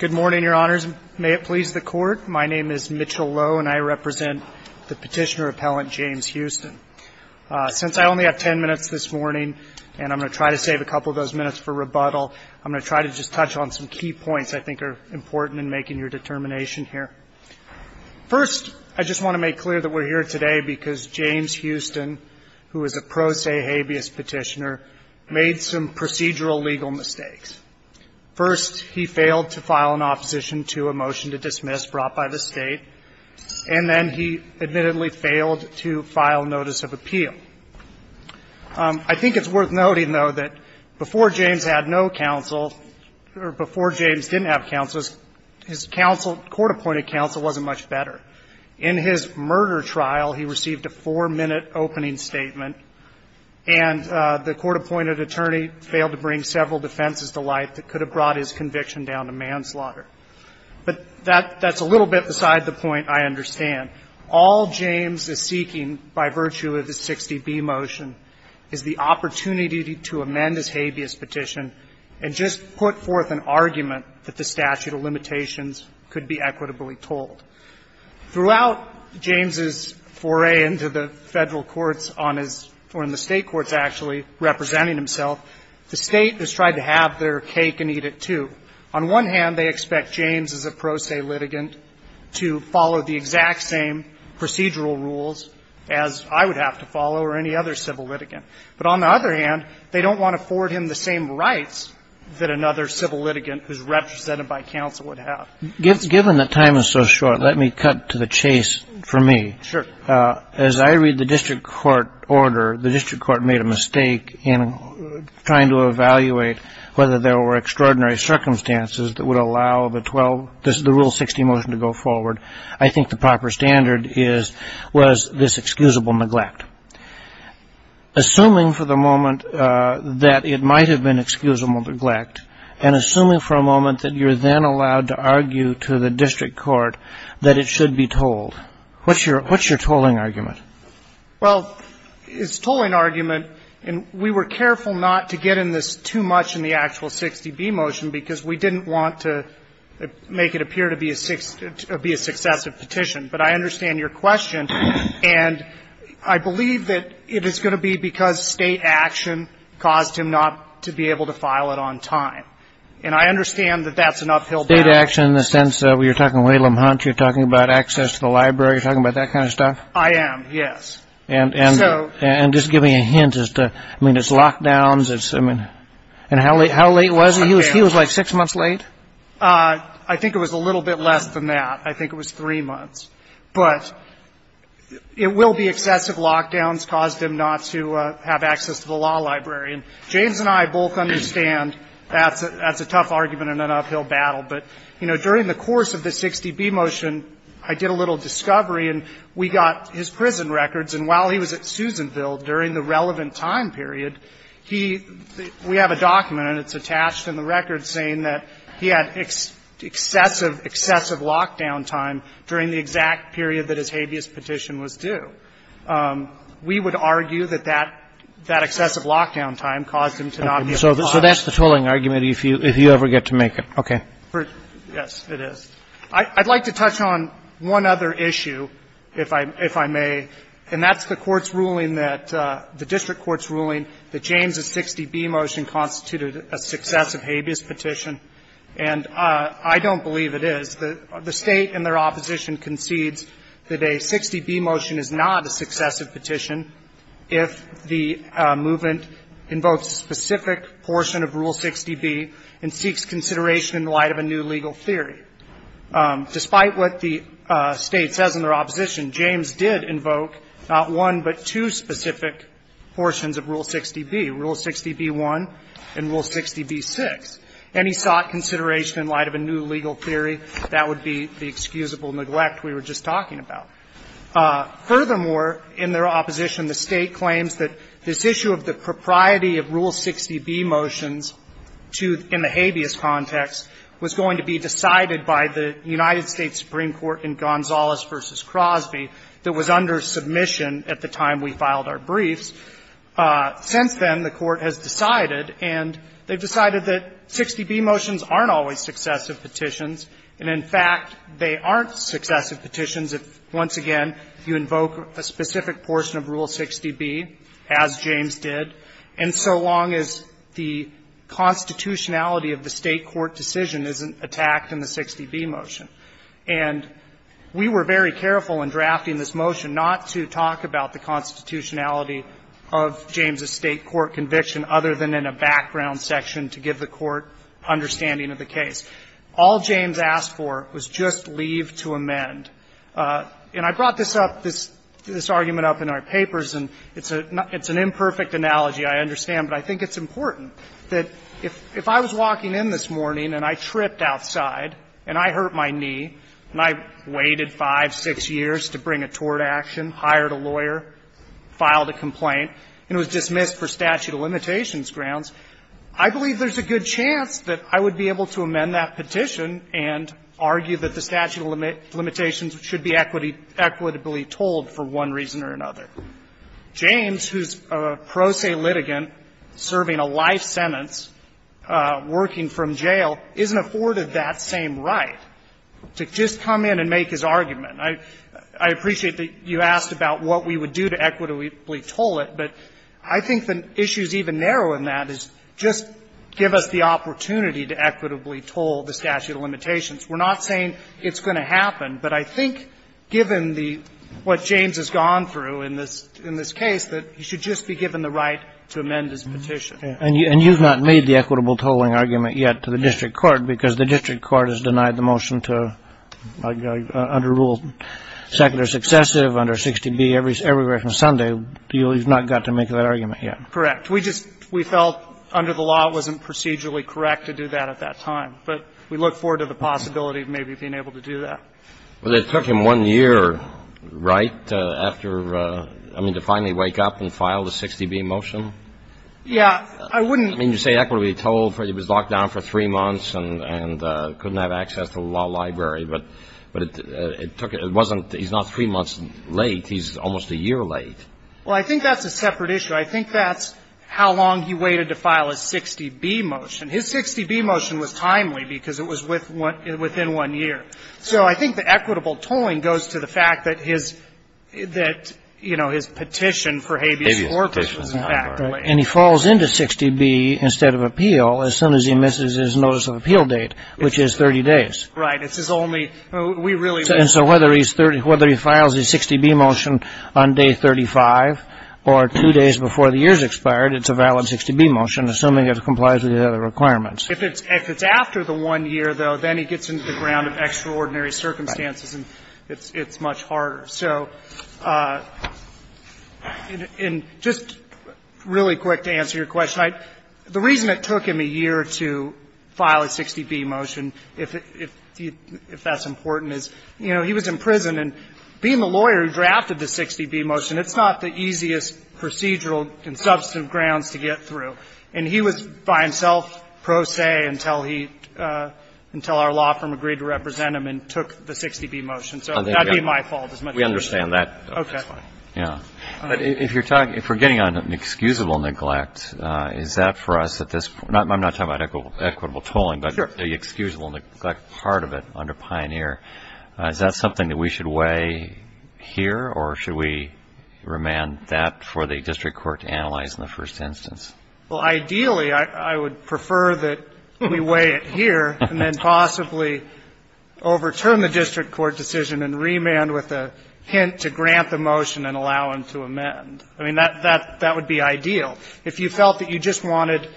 Good morning, Your Honors. May it please the Court, my name is Mitchell Lowe and I represent the Petitioner Appellant James Houston. Since I only have ten minutes this morning, and I'm going to try to save a couple of those minutes for rebuttal, I'm going to try to just touch on some key points I think are important in making your determination here. First, I just want to make clear that we're here today because James Houston, who is a pro se habeas petitioner, made some procedural legal mistakes. First, he failed to file an opposition to a motion to dismiss brought by the State, and then he admittedly failed to file notice of appeal. I think it's worth noting, though, that before James had no counsel, or before James didn't have counsel, his counsel, court-appointed counsel, wasn't much better. In his murder trial, he received a four-minute opening statement, and the court-appointed attorney failed to bring several defenses to light that could have brought his conviction down to manslaughter. But that's a little bit beside the point I understand. All James is seeking by virtue of the 60B motion is the opportunity to amend his habeas petition and just put forth an argument that the statute of limitations could be equitably told. Throughout James' foray into the Federal courts on his or in the State courts, actually, representing himself, the State has tried to have their cake and eat it, too. On one hand, they expect James, as a pro se litigant, to follow the exact same procedural rules as I would have to follow or any other civil litigant. But on the other hand, they don't want to forward him the same rights that another civil litigant who's represented by counsel would have. Given the time is so short, let me cut to the chase for me. Sure. As I read the district court order, the district court made a mistake in trying to evaluate whether there were extraordinary circumstances that would allow the Rule 60 motion to go forward. I think the proper standard was this excusable neglect. Assuming for the moment that it might have been excusable neglect and assuming for a moment that you're then allowed to argue to the district court that it should be told, what's your tolling argument? Well, it's a tolling argument. And we were careful not to get in this too much in the actual 60B motion because we didn't want to make it appear to be a successive petition. But I understand your question. And I believe that it is going to be because State action caused him not to be able to file it on time. And I understand that that's an uphill battle. State action in the sense that you're talking about access to the library, you're talking about that kind of stuff? I am, yes. And just give me a hint as to, I mean, it's lockdowns, it's, I mean, and how late was he? He was like six months late? I think it was a little bit less than that. I think it was three months. But it will be excessive lockdowns caused him not to have access to the law library. And James and I both understand that's a tough argument and an uphill battle. But, you know, during the course of the 60B motion, I did a little discovery and we got his prison records. And while he was at Susanville during the relevant time period, he, we have a document and it's attached in the record saying that he had excessive, excessive lockdown time during the exact period that his habeas petition was due. We would argue that that, that excessive lockdown time caused him to not be able to apply. Okay. So that's the tolling argument, if you ever get to make it. Okay. Yes, it is. I'd like to touch on one other issue, if I may, and that's the Court's ruling that, the district court's ruling that James' 60B motion constituted a successive habeas petition. And I don't believe it is. The State in their opposition concedes that a 60B motion is not a successive petition if the movement invokes a specific portion of Rule 60B and seeks consideration in light of a new legal theory. Despite what the State says in their opposition, James did invoke not one but two specific portions of Rule 60B, Rule 60B1 and Rule 60B6. And he sought consideration in light of a new legal theory. That would be the excusable neglect we were just talking about. Furthermore, in their opposition, the State claims that this issue of the propriety of Rule 60B motions to, in the habeas context, was going to be decided by the United States Supreme Court in Gonzalez v. Crosby that was under submission at the time we filed our briefs. Since then, the Court has decided, and they've decided that 60B motions aren't always successive petitions, and, in fact, they aren't successive petitions if, once again, you invoke a specific portion of Rule 60B, as James did, and so long as the constitutionality of the State court decision isn't attacked in the 60B motion. And we were very careful in drafting this motion not to talk about the constitutionality of James's State court conviction, other than in a background section to give the Court understanding of the case. All James asked for was just leave to amend. And I brought this up, this argument up in our papers, and it's an imperfect analogy, I understand, but I think it's important that if I was walking in this morning and I tripped outside and I hurt my knee and I waited 5, 6 years to bring a tort action, hired a lawyer, filed a complaint, and it was dismissed for statute of limitations grounds, I believe there's a good chance that I would be able to amend that petition and argue that the statute of limitations should be equitably told for one reason or another. James, who's a pro se litigant serving a life sentence, working from jail, isn't afforded that same right to just come in and make his argument. I appreciate that you asked about what we would do to equitably toll it, but I think the issue is even narrower than that, is just give us the opportunity to equitably toll the statute of limitations. We're not saying it's going to happen, but I think given the what James has gone through in this case, that he should just be given the right to amend his petition. And you've not made the equitable tolling argument yet to the district court because the district court has denied the motion to under rule secular successive under 60B everywhere from Sunday. You've not got to make that argument yet. Correct. We just we felt under the law it wasn't procedurally correct to do that at that time. But we look forward to the possibility of maybe being able to do that. Well, it took him one year, right, after, I mean, to finally wake up and file the 60B motion? Yeah. I wouldn't. I mean, you say equitably toll. He was locked down for three months and couldn't have access to the law library. But it took, it wasn't, he's not three months late. He's almost a year late. Well, I think that's a separate issue. I think that's how long he waited to file his 60B motion. His 60B motion was timely because it was within one year. So I think the equitable tolling goes to the fact that his, you know, his petition for habeas corpus was in fact late. And he falls into 60B instead of appeal as soon as he misses his notice of appeal date, which is 30 days. Right. This is only, we really. And so whether he's 30, whether he files his 60B motion on day 35 or two days before the year's expired, it's a valid 60B motion, assuming it complies with the other requirements. If it's after the one year, though, then he gets into the ground of extraordinary circumstances and it's much harder. So and just really quick to answer your question. The reason it took him a year to file his 60B motion, if that's important, is, you know, he was in prison. And being the lawyer who drafted the 60B motion, it's not the easiest procedural and substantive grounds to get through. And he was by himself pro se until he, until our law firm agreed to represent him and took the 60B motion. So that would be my fault. We understand that. Okay. Yeah. But if you're talking, if we're getting on an excusable neglect, is that for us at this point? I'm not talking about equitable tolling, but the excusable neglect part of it under Pioneer. Is that something that we should weigh here or should we remand that for the district court to analyze in the first instance? Well, ideally, I would prefer that we weigh it here and then possibly overturn the district court decision and remand with a hint to grant the motion and allow him to amend. I mean, that would be ideal. If you felt that you just wanted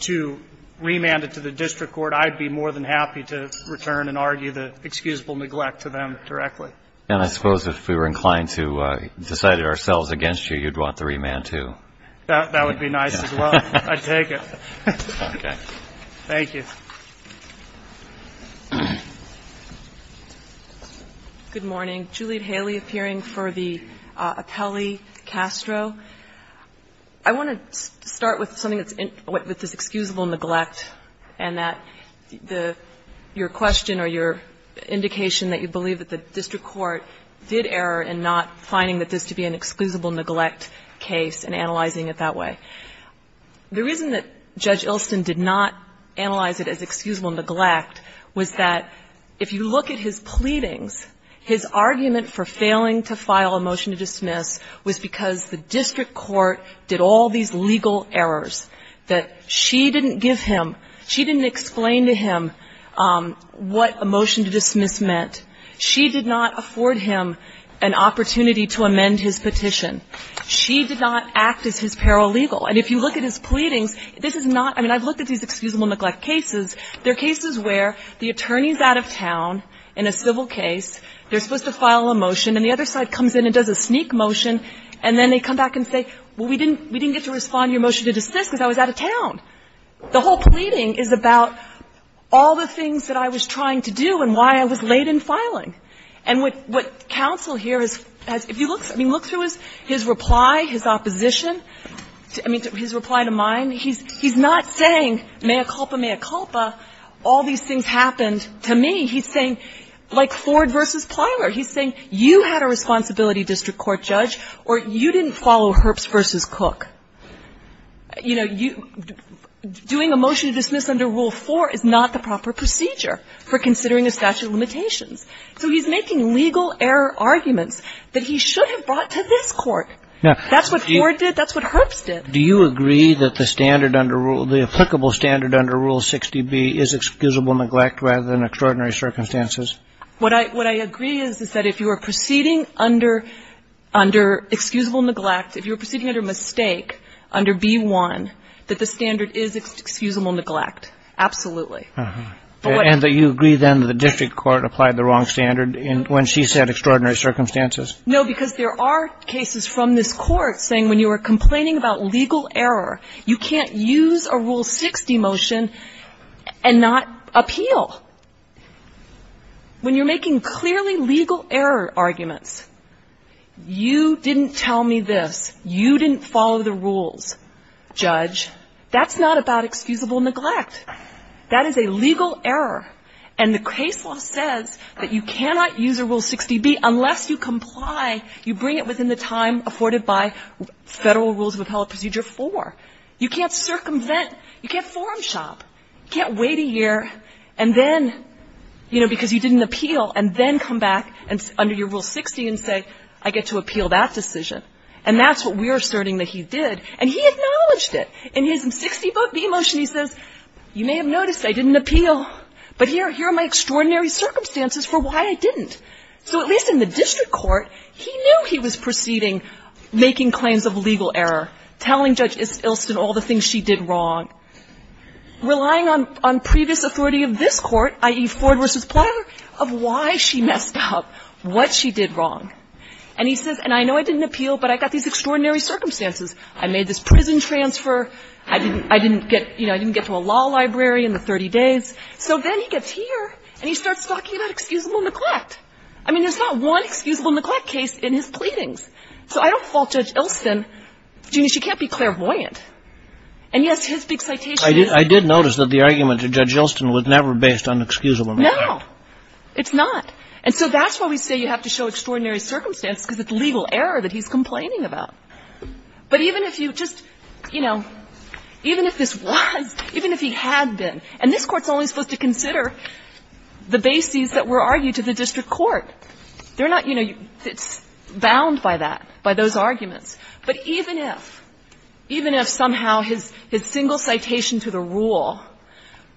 to remand it to the district court, I'd be more than happy to return and argue the excusable neglect to them directly. And I suppose if we were inclined to decide it ourselves against you, you'd want the remand, too. That would be nice as well. I'd take it. Okay. Thank you. Good morning. Juliet Haley appearing for the appellee, Castro. I want to start with something that's, with this excusable neglect and that the, your question or your indication that you believe that the district court did error in not finding that this to be an excusable neglect case and analyzing it that the reason that Judge Ilston did not analyze it as excusable neglect was that if you look at his pleadings, his argument for failing to file a motion to dismiss was because the district court did all these legal errors that she didn't give him, she didn't explain to him what a motion to dismiss meant. She did not afford him an opportunity to amend his petition. She did not act as his paralegal. And if you look at his pleadings, this is not, I mean, I've looked at these excusable neglect cases. They're cases where the attorney's out of town in a civil case, they're supposed to file a motion, and the other side comes in and does a sneak motion, and then they come back and say, well, we didn't get to respond to your motion to dismiss because I was out of town. The whole pleading is about all the things that I was trying to do and why I was late in filing. And what counsel here has, if you look, I mean, look through his reply, his opposition, I mean, his reply to mine. He's not saying mea culpa, mea culpa, all these things happened to me. He's saying, like Ford v. Plyler, he's saying you had a responsibility, district court judge, or you didn't follow Herbst v. Cook. You know, doing a motion to dismiss under Rule 4 is not the proper procedure for considering a statute of limitations. So he's making legal error arguments that he should have brought to this Court. That's what Ford did. That's what Herbst did. Do you agree that the standard under Rule, the applicable standard under Rule 60b is excusable neglect rather than extraordinary circumstances? What I agree is, is that if you are proceeding under excusable neglect, if you're proceeding under mistake under B-1, that the standard is excusable neglect, absolutely. And that you agree, then, that the district court applied the wrong standard when she said extraordinary circumstances? No, because there are cases from this Court saying when you are complaining about legal error, you can't use a Rule 60 motion and not appeal. When you're making clearly legal error arguments, you didn't tell me this, you didn't follow the rules, judge, that's not about excusable neglect. That is a legal error. And the case law says that you cannot use a Rule 60b unless you comply, you bring it within the time afforded by Federal Rules of Appellate Procedure 4. You can't circumvent, you can't forum shop, you can't wait a year and then, you know, because you didn't appeal, and then come back under your Rule 60 and say, I get to appeal that decision. And that's what we're asserting that he did. And he acknowledged it. In his Rule 60b motion, he says, you may have noticed I didn't appeal, but here are my extraordinary circumstances for why I didn't. So at least in the district court, he knew he was proceeding, making claims of legal error, telling Judge Ilsen all the things she did wrong, relying on previous authority of this Court, i.e., Ford v. Plowyer, of why she messed up, what she did wrong. And he says, and I know I didn't appeal, but I got these extraordinary circumstances. I made this prison transfer. I didn't get, you know, I didn't get to a law library in the 30 days. So then he gets here and he starts talking about excusable neglect. I mean, there's not one excusable neglect case in his pleadings. So I don't fault Judge Ilsen. She can't be clairvoyant. And, yes, his big citation is. Kagan. I did notice that the argument to Judge Ilsen was never based on excusable neglect. No. It's not. And so that's why we say you have to show extraordinary circumstances, because it's legal error that he's complaining about. But even if you just, you know, even if this was, even if he had been, and this Court's only supposed to consider the bases that were argued to the district court. They're not, you know, it's bound by that, by those arguments. But even if, even if somehow his single citation to the rule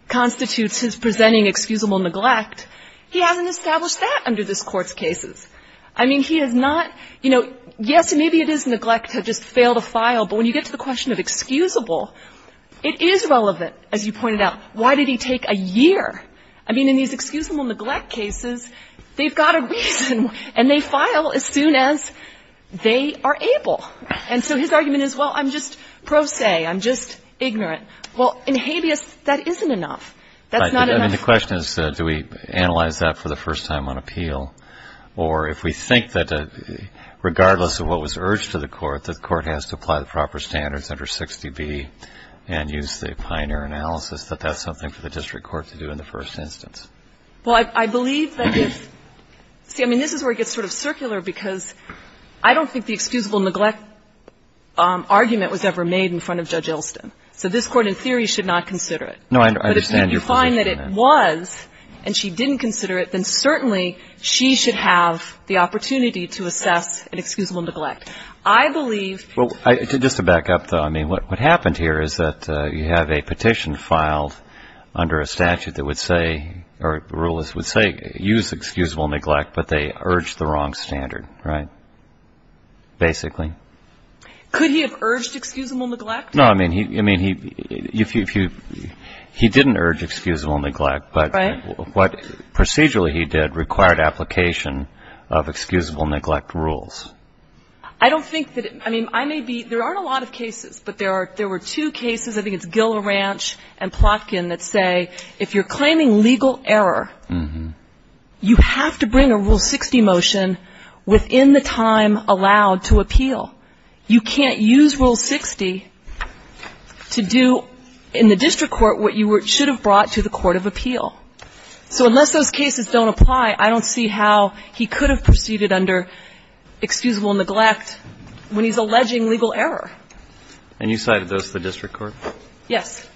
constitutes his presenting excusable neglect, he hasn't established that under this Court's cases. I mean, he has not, you know, yes, maybe it is neglect to just fail to file. But when you get to the question of excusable, it is relevant, as you pointed out. Why did he take a year? I mean, in these excusable neglect cases, they've got a reason. And they file as soon as they are able. And so his argument is, well, I'm just pro se. I'm just ignorant. Well, in habeas, that isn't enough. That's not enough. So the question is, do we analyze that for the first time on appeal? Or if we think that regardless of what was urged to the Court, the Court has to apply the proper standards under 60B and use the pioneer analysis, that that's something for the district court to do in the first instance? Well, I believe that if you see, I mean, this is where it gets sort of circular because I don't think the excusable neglect argument was ever made in front of Judge Elston. So this Court, in theory, should not consider it. No, I understand your position on that. But if you find that it was, and she didn't consider it, then certainly she should have the opportunity to assess an excusable neglect. I believe... Well, just to back up, though, I mean, what happened here is that you have a petition filed under a statute that would say, or rulers would say, use excusable neglect, but they urged the wrong standard, right? Basically. Could he have urged excusable neglect? No, I mean, he didn't urge excusable neglect, but what procedurally he did required application of excusable neglect rules. I don't think that, I mean, I may be, there aren't a lot of cases, but there were two cases, I think it's Gill Ranch and Plotkin, that say if you're claiming legal error, you have to bring a Rule 60 motion within the time allowed to appeal. You can't use Rule 60 to do in the district court what you should have brought to the court of appeal. So unless those cases don't apply, I don't see how he could have proceeded under excusable neglect when he's alleging legal error. And you cited those to the district court? Yes.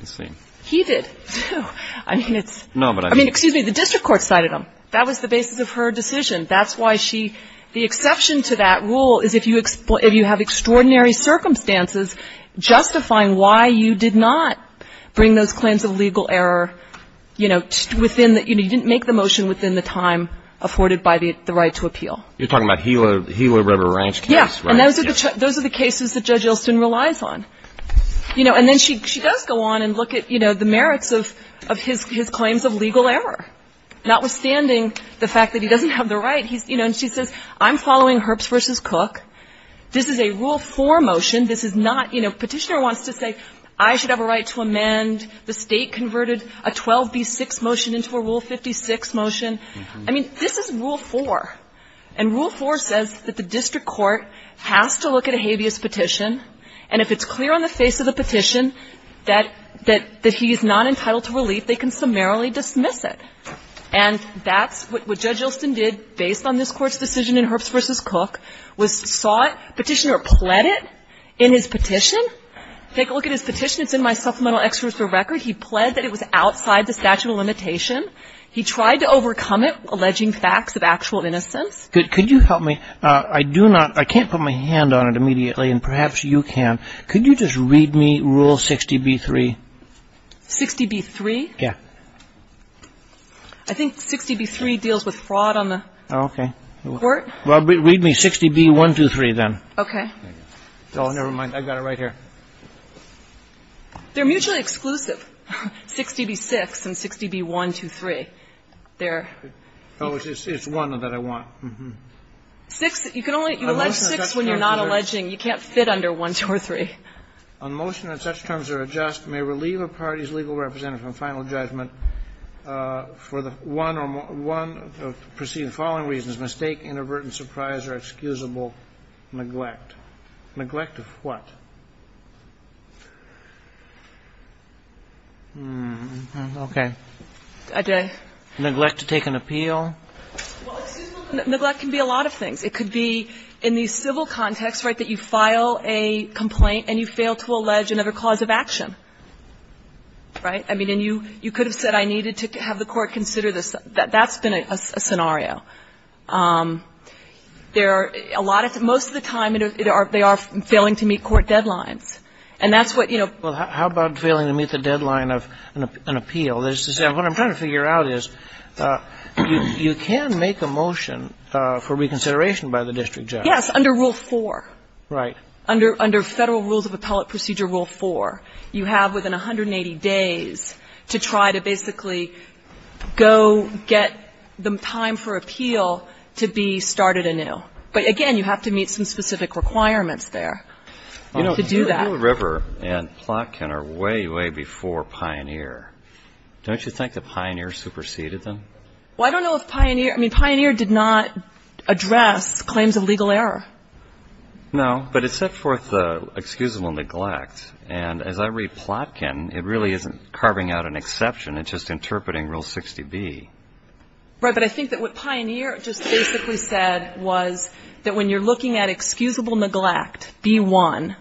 I see. He did, too. I mean, it's... No, but I... I mean, excuse me, the district court cited them. That was the basis of her decision. That's why she, the exception to that rule is if you have extraordinary circumstances justifying why you did not bring those claims of legal error, you know, within the, you didn't make the motion within the time afforded by the right to appeal. You're talking about the Gila River Ranch case, right? Yes. And those are the cases that Judge Yeltsin relies on. You know, and then she does go on and look at, you know, the merits of his claims of legal error, notwithstanding the fact that he doesn't have the right. You know, and she says, I'm following Herbst v. Cook. This is a Rule 4 motion. This is not, you know, Petitioner wants to say I should have a right to amend. The State converted a 12b6 motion into a Rule 56 motion. I mean, this is Rule 4. And Rule 4 says that the district court has to look at a habeas petition, and if it's clear on the face of the petition that he's not entitled to relief, they can summarily dismiss it. And that's what Judge Yeltsin did, based on this Court's decision in Herbst v. Cook, was sought, Petitioner pled it in his petition. Take a look at his petition. It's in my Supplemental Excerpt for Record. He pled that it was outside the statute of limitation. He tried to overcome it, alleging facts of actual innocence. Could you help me? I do not, I can't put my hand on it immediately, and perhaps you can. Could you just read me Rule 60b3? 60b3? Yeah. I think 60b3 deals with fraud on the court. Okay. Well, read me 60b123, then. Okay. Oh, never mind. I've got it right here. They're mutually exclusive, 60b6 and 60b123. They're... Oh, it's one that I want. Mm-hmm. Six, you can only, you allege six when you're not alleging. You can't fit under one, two, or three. On motion that such terms are adjust may relieve a party's legal representative from final judgment for the one or more, one of the preceding following reasons, mistake, inadvertent surprise, or excusable neglect. Neglect of what? Hmm. Okay. Neglect to take an appeal. Well, excuse me. Neglect can be a lot of things. It could be in the civil context, right, that you file a complaint and you fail to allege another cause of action. Right? I mean, and you could have said I needed to have the court consider this. That's been a scenario. There are a lot of them. Most of the time, they are failing to meet court deadlines. And that's what, you know... Well, how about failing to meet the deadline of an appeal? Well, what I'm trying to figure out is you can make a motion for reconsideration by the district judge. Yes, under Rule 4. Right. Under Federal Rules of Appellate Procedure Rule 4, you have within 180 days to try to basically go get the time for appeal to be started anew. But again, you have to meet some specific requirements there to do that. Rule River and Plotkin are way, way before Pioneer. Don't you think that Pioneer superseded them? Well, I don't know if Pioneer... I mean, Pioneer did not address claims of legal error. No, but it set forth excusable neglect. And as I read Plotkin, it really isn't carving out an exception. It's just interpreting Rule 60B. Right, but I think that what Pioneer just basically said was that when you're looking at excusable neglect, B-1,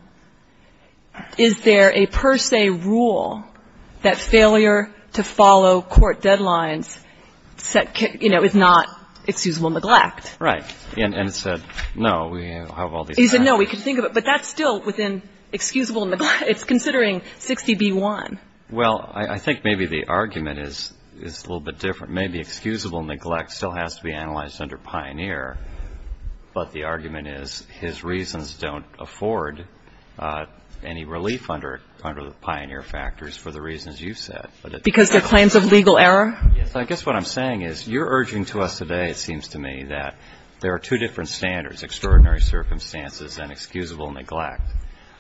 is there a per se rule that failure to follow court deadlines, you know, is not excusable neglect? Right. And it said, no, we have all these... He said, no, we can think of it. But that's still within excusable neglect. It's considering 60B-1. Well, I think maybe the argument is a little bit different. Maybe excusable neglect still has to be analyzed under Pioneer, but the argument is his reasons don't afford any relief under Pioneer factors for the reasons you've said. Because they're claims of legal error? Yes, I guess what I'm saying is you're urging to us today, it seems to me, that there are two different standards, extraordinary circumstances and excusable neglect.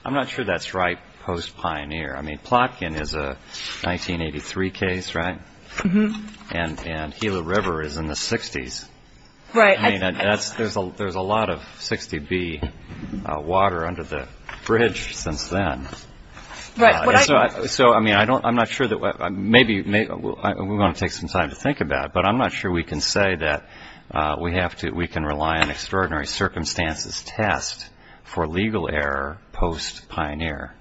I'm not sure that's right post-Pioneer. I mean, Plotkin is a 1983 case, right? Mm-hmm. And Gila River is in the 60s. Right. I mean, there's a lot of 60B water under the bridge since then. Right. So, I mean, I'm not sure that we're going to take some time to think about it, but I'm not sure we can say that we can rely on extraordinary circumstances test for legal error post-Pioneer.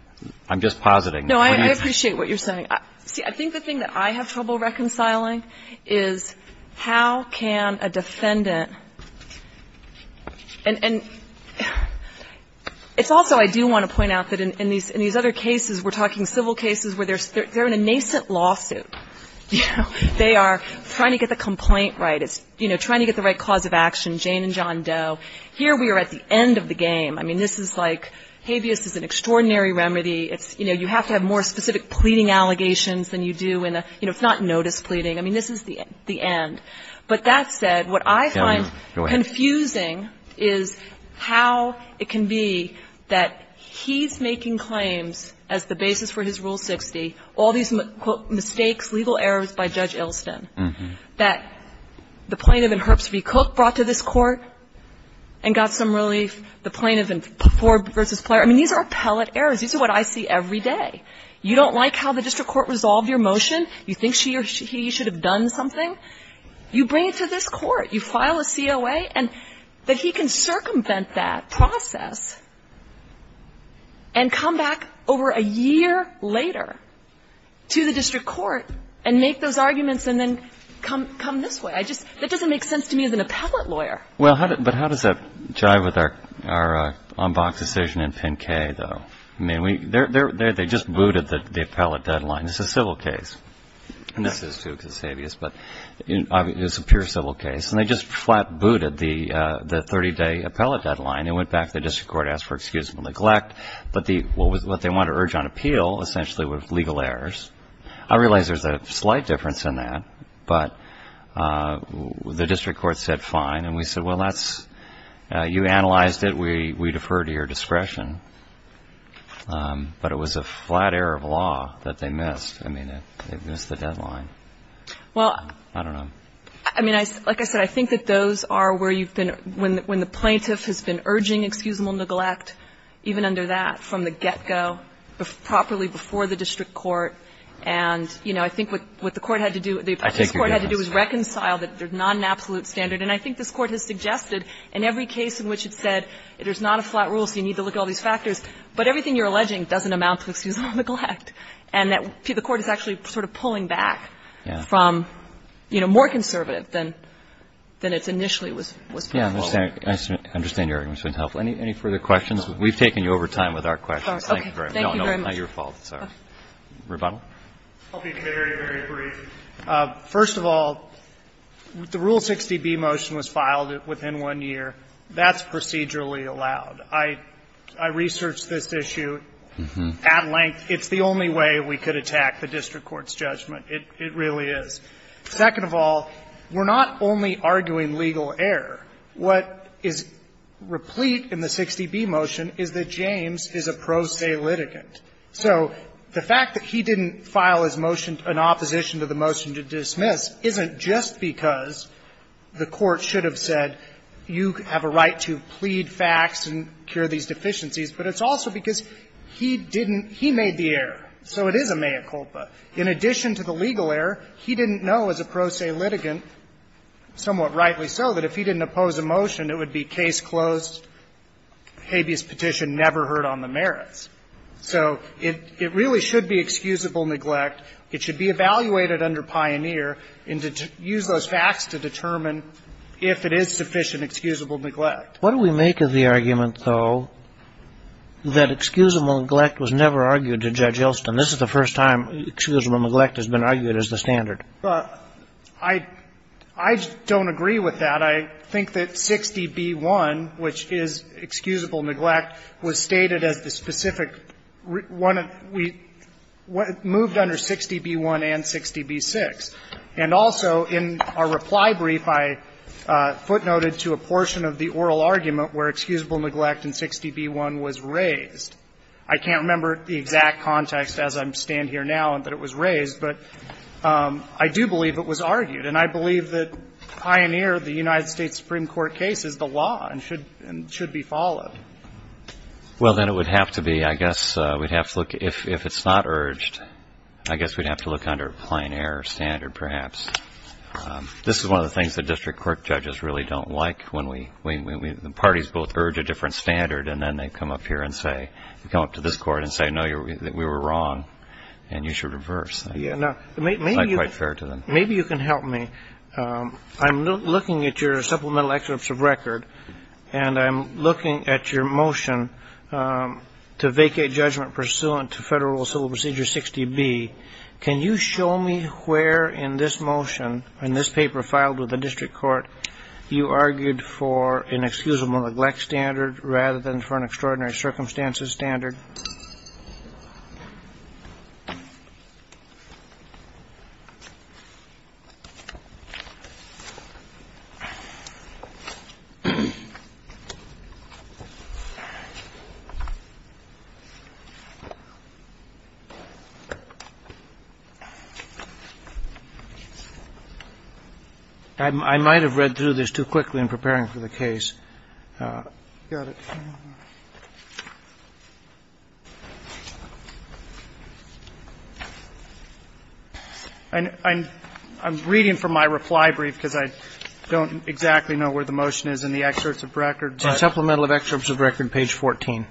I'm just positing. No, I appreciate what you're saying. See, I think the thing that I have trouble reconciling is how can a defendant and it's also I do want to point out that in these other cases, we're talking civil cases where they're in a nascent lawsuit. They are trying to get the complaint right. It's trying to get the right cause of action, Jane and John Doe. Here we are at the end of the game. I mean, this is like habeas is an extraordinary remedy. It's, you know, you have to have more specific pleading allegations than you do in a, you know, it's not notice pleading. I mean, this is the end. But that said, what I find confusing is how it can be that he's making claims as the basis for his Rule 60, all these, quote, mistakes, legal errors by Judge Ilston, that the plaintiff in Herbst v. Cook brought to this Court and got some relief, the plaintiff in Forbes v. Pleyer. I mean, these are appellate errors. These are what I see every day. You don't like how the district court resolved your motion? You think she or he should have done something? You bring it to this Court. You file a COA, and that he can circumvent that process and come back over a year later to the district court and make those arguments and then come this way. I just, that doesn't make sense to me as an appellate lawyer. Well, but how does that jive with our on-box decision in Pin K, though? I mean, they just booted the appellate deadline. It's a civil case. And this is too conspicuous, but it's a pure civil case. And they just flat booted the 30-day appellate deadline and went back to the district court, asked for excuse and neglect. But what they want to urge on appeal, essentially, were legal errors. I realize there's a slight difference in that, but the district court said fine, and we said, well, that's, you analyzed it. We defer to your discretion. But it was a flat error of law that they missed. I mean, they missed the deadline. Well, I don't know. I mean, like I said, I think that those are where you've been, when the plaintiff has been urging excuseable neglect, even under that, from the get-go, properly before the district court. And, you know, I think what the court had to do, what this Court had to do was reconcile that they're not an absolute standard. And I think this Court has suggested in every case in which it said there's not a flat rule, so you need to look at all these factors. But everything you're alleging doesn't amount to excuseable neglect. And that the Court is actually sort of pulling back from, you know, more conservative than it initially was proposed. Roberts. I understand your argument. Any further questions? We've taken you over time with our questions. Thank you very much. No, not your fault. Rebuttal. I'll be very, very brief. First of all, the Rule 60b motion was filed within one year. That's procedurally allowed. I researched this issue at length. It's the only way we could attack the district court's judgment. It really is. Second of all, we're not only arguing legal error. What is replete in the 60b motion is that James is a pro se litigant. So the fact that he didn't file his motion in opposition to the motion to dismiss isn't just because the Court should have said you have a right to plead facts and cure these deficiencies, but it's also because he didn't he made the error. So it is a mea culpa. In addition to the legal error, he didn't know as a pro se litigant, somewhat rightly so, that if he didn't oppose a motion, it would be case closed, habeas petition, and never heard on the merits. So it really should be excusable neglect. It should be evaluated under Pioneer and use those facts to determine if it is sufficient excusable neglect. What do we make of the argument, though, that excusable neglect was never argued to Judge Elston? This is the first time excusable neglect has been argued as the standard. I don't agree with that. I think that 60b-1, which is excusable neglect, was stated as the specific one that we moved under 60b-1 and 60b-6. And also in our reply brief, I footnoted to a portion of the oral argument where excusable neglect in 60b-1 was raised. I can't remember the exact context as I stand here now and that it was raised, but I do believe it was argued. And I believe that Pioneer, the United States Supreme Court case, is the law and should be followed. Well, then it would have to be, I guess, we'd have to look, if it's not urged, I guess we'd have to look under Pioneer standard perhaps. This is one of the things that district court judges really don't like when we, when the parties both urge a different standard and then they come up here and say, come up to this Court and say, no, we were wrong and you should reverse. It's not quite fair to them. Maybe you can help me. I'm looking at your supplemental excerpts of record and I'm looking at your motion to vacate judgment pursuant to federal civil procedure 60b. Can you show me where in this motion, in this paper filed with the district court, you argued for an excusable neglect standard rather than for an extraordinary circumstances standard? I might have read through this too quickly in preparing for the case. I'm reading from my reply brief because I don't exactly know where the motion is in the excerpts of record. Supplemental excerpts of record, page 14.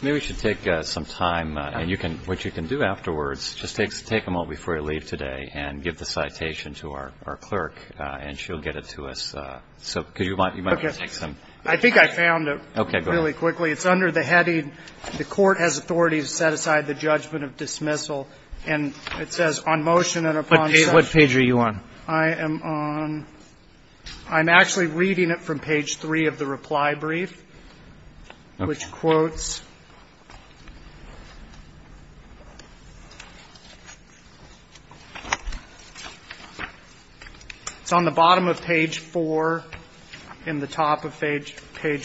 Maybe we should take some time. And you can, what you can do afterwards, just take them all before you leave today and give the citation to our clerk and she'll get it to us. So could you, you might want to take some. I think I found it really quickly. It's under the heading, the court has authority to set aside the judgment of dismissal. And it says on motion and upon session. What page are you on? I am on, I'm actually reading it from page 3 of the reply brief, which quotes. It's on the bottom of page 4 and the top of page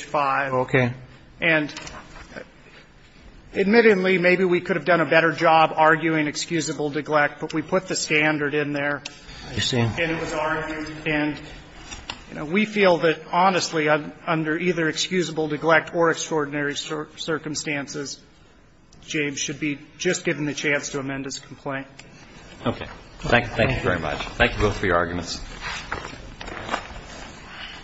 5. Okay. And admittedly, maybe we could have done a better job arguing excusable neglect, but we put the standard in there. Yes, ma'am. And it was argued. And, you know, we feel that honestly under either excusable neglect or extraordinary circumstances, James should be just given the chance to amend his complaint. Okay. Thank you both for your arguments.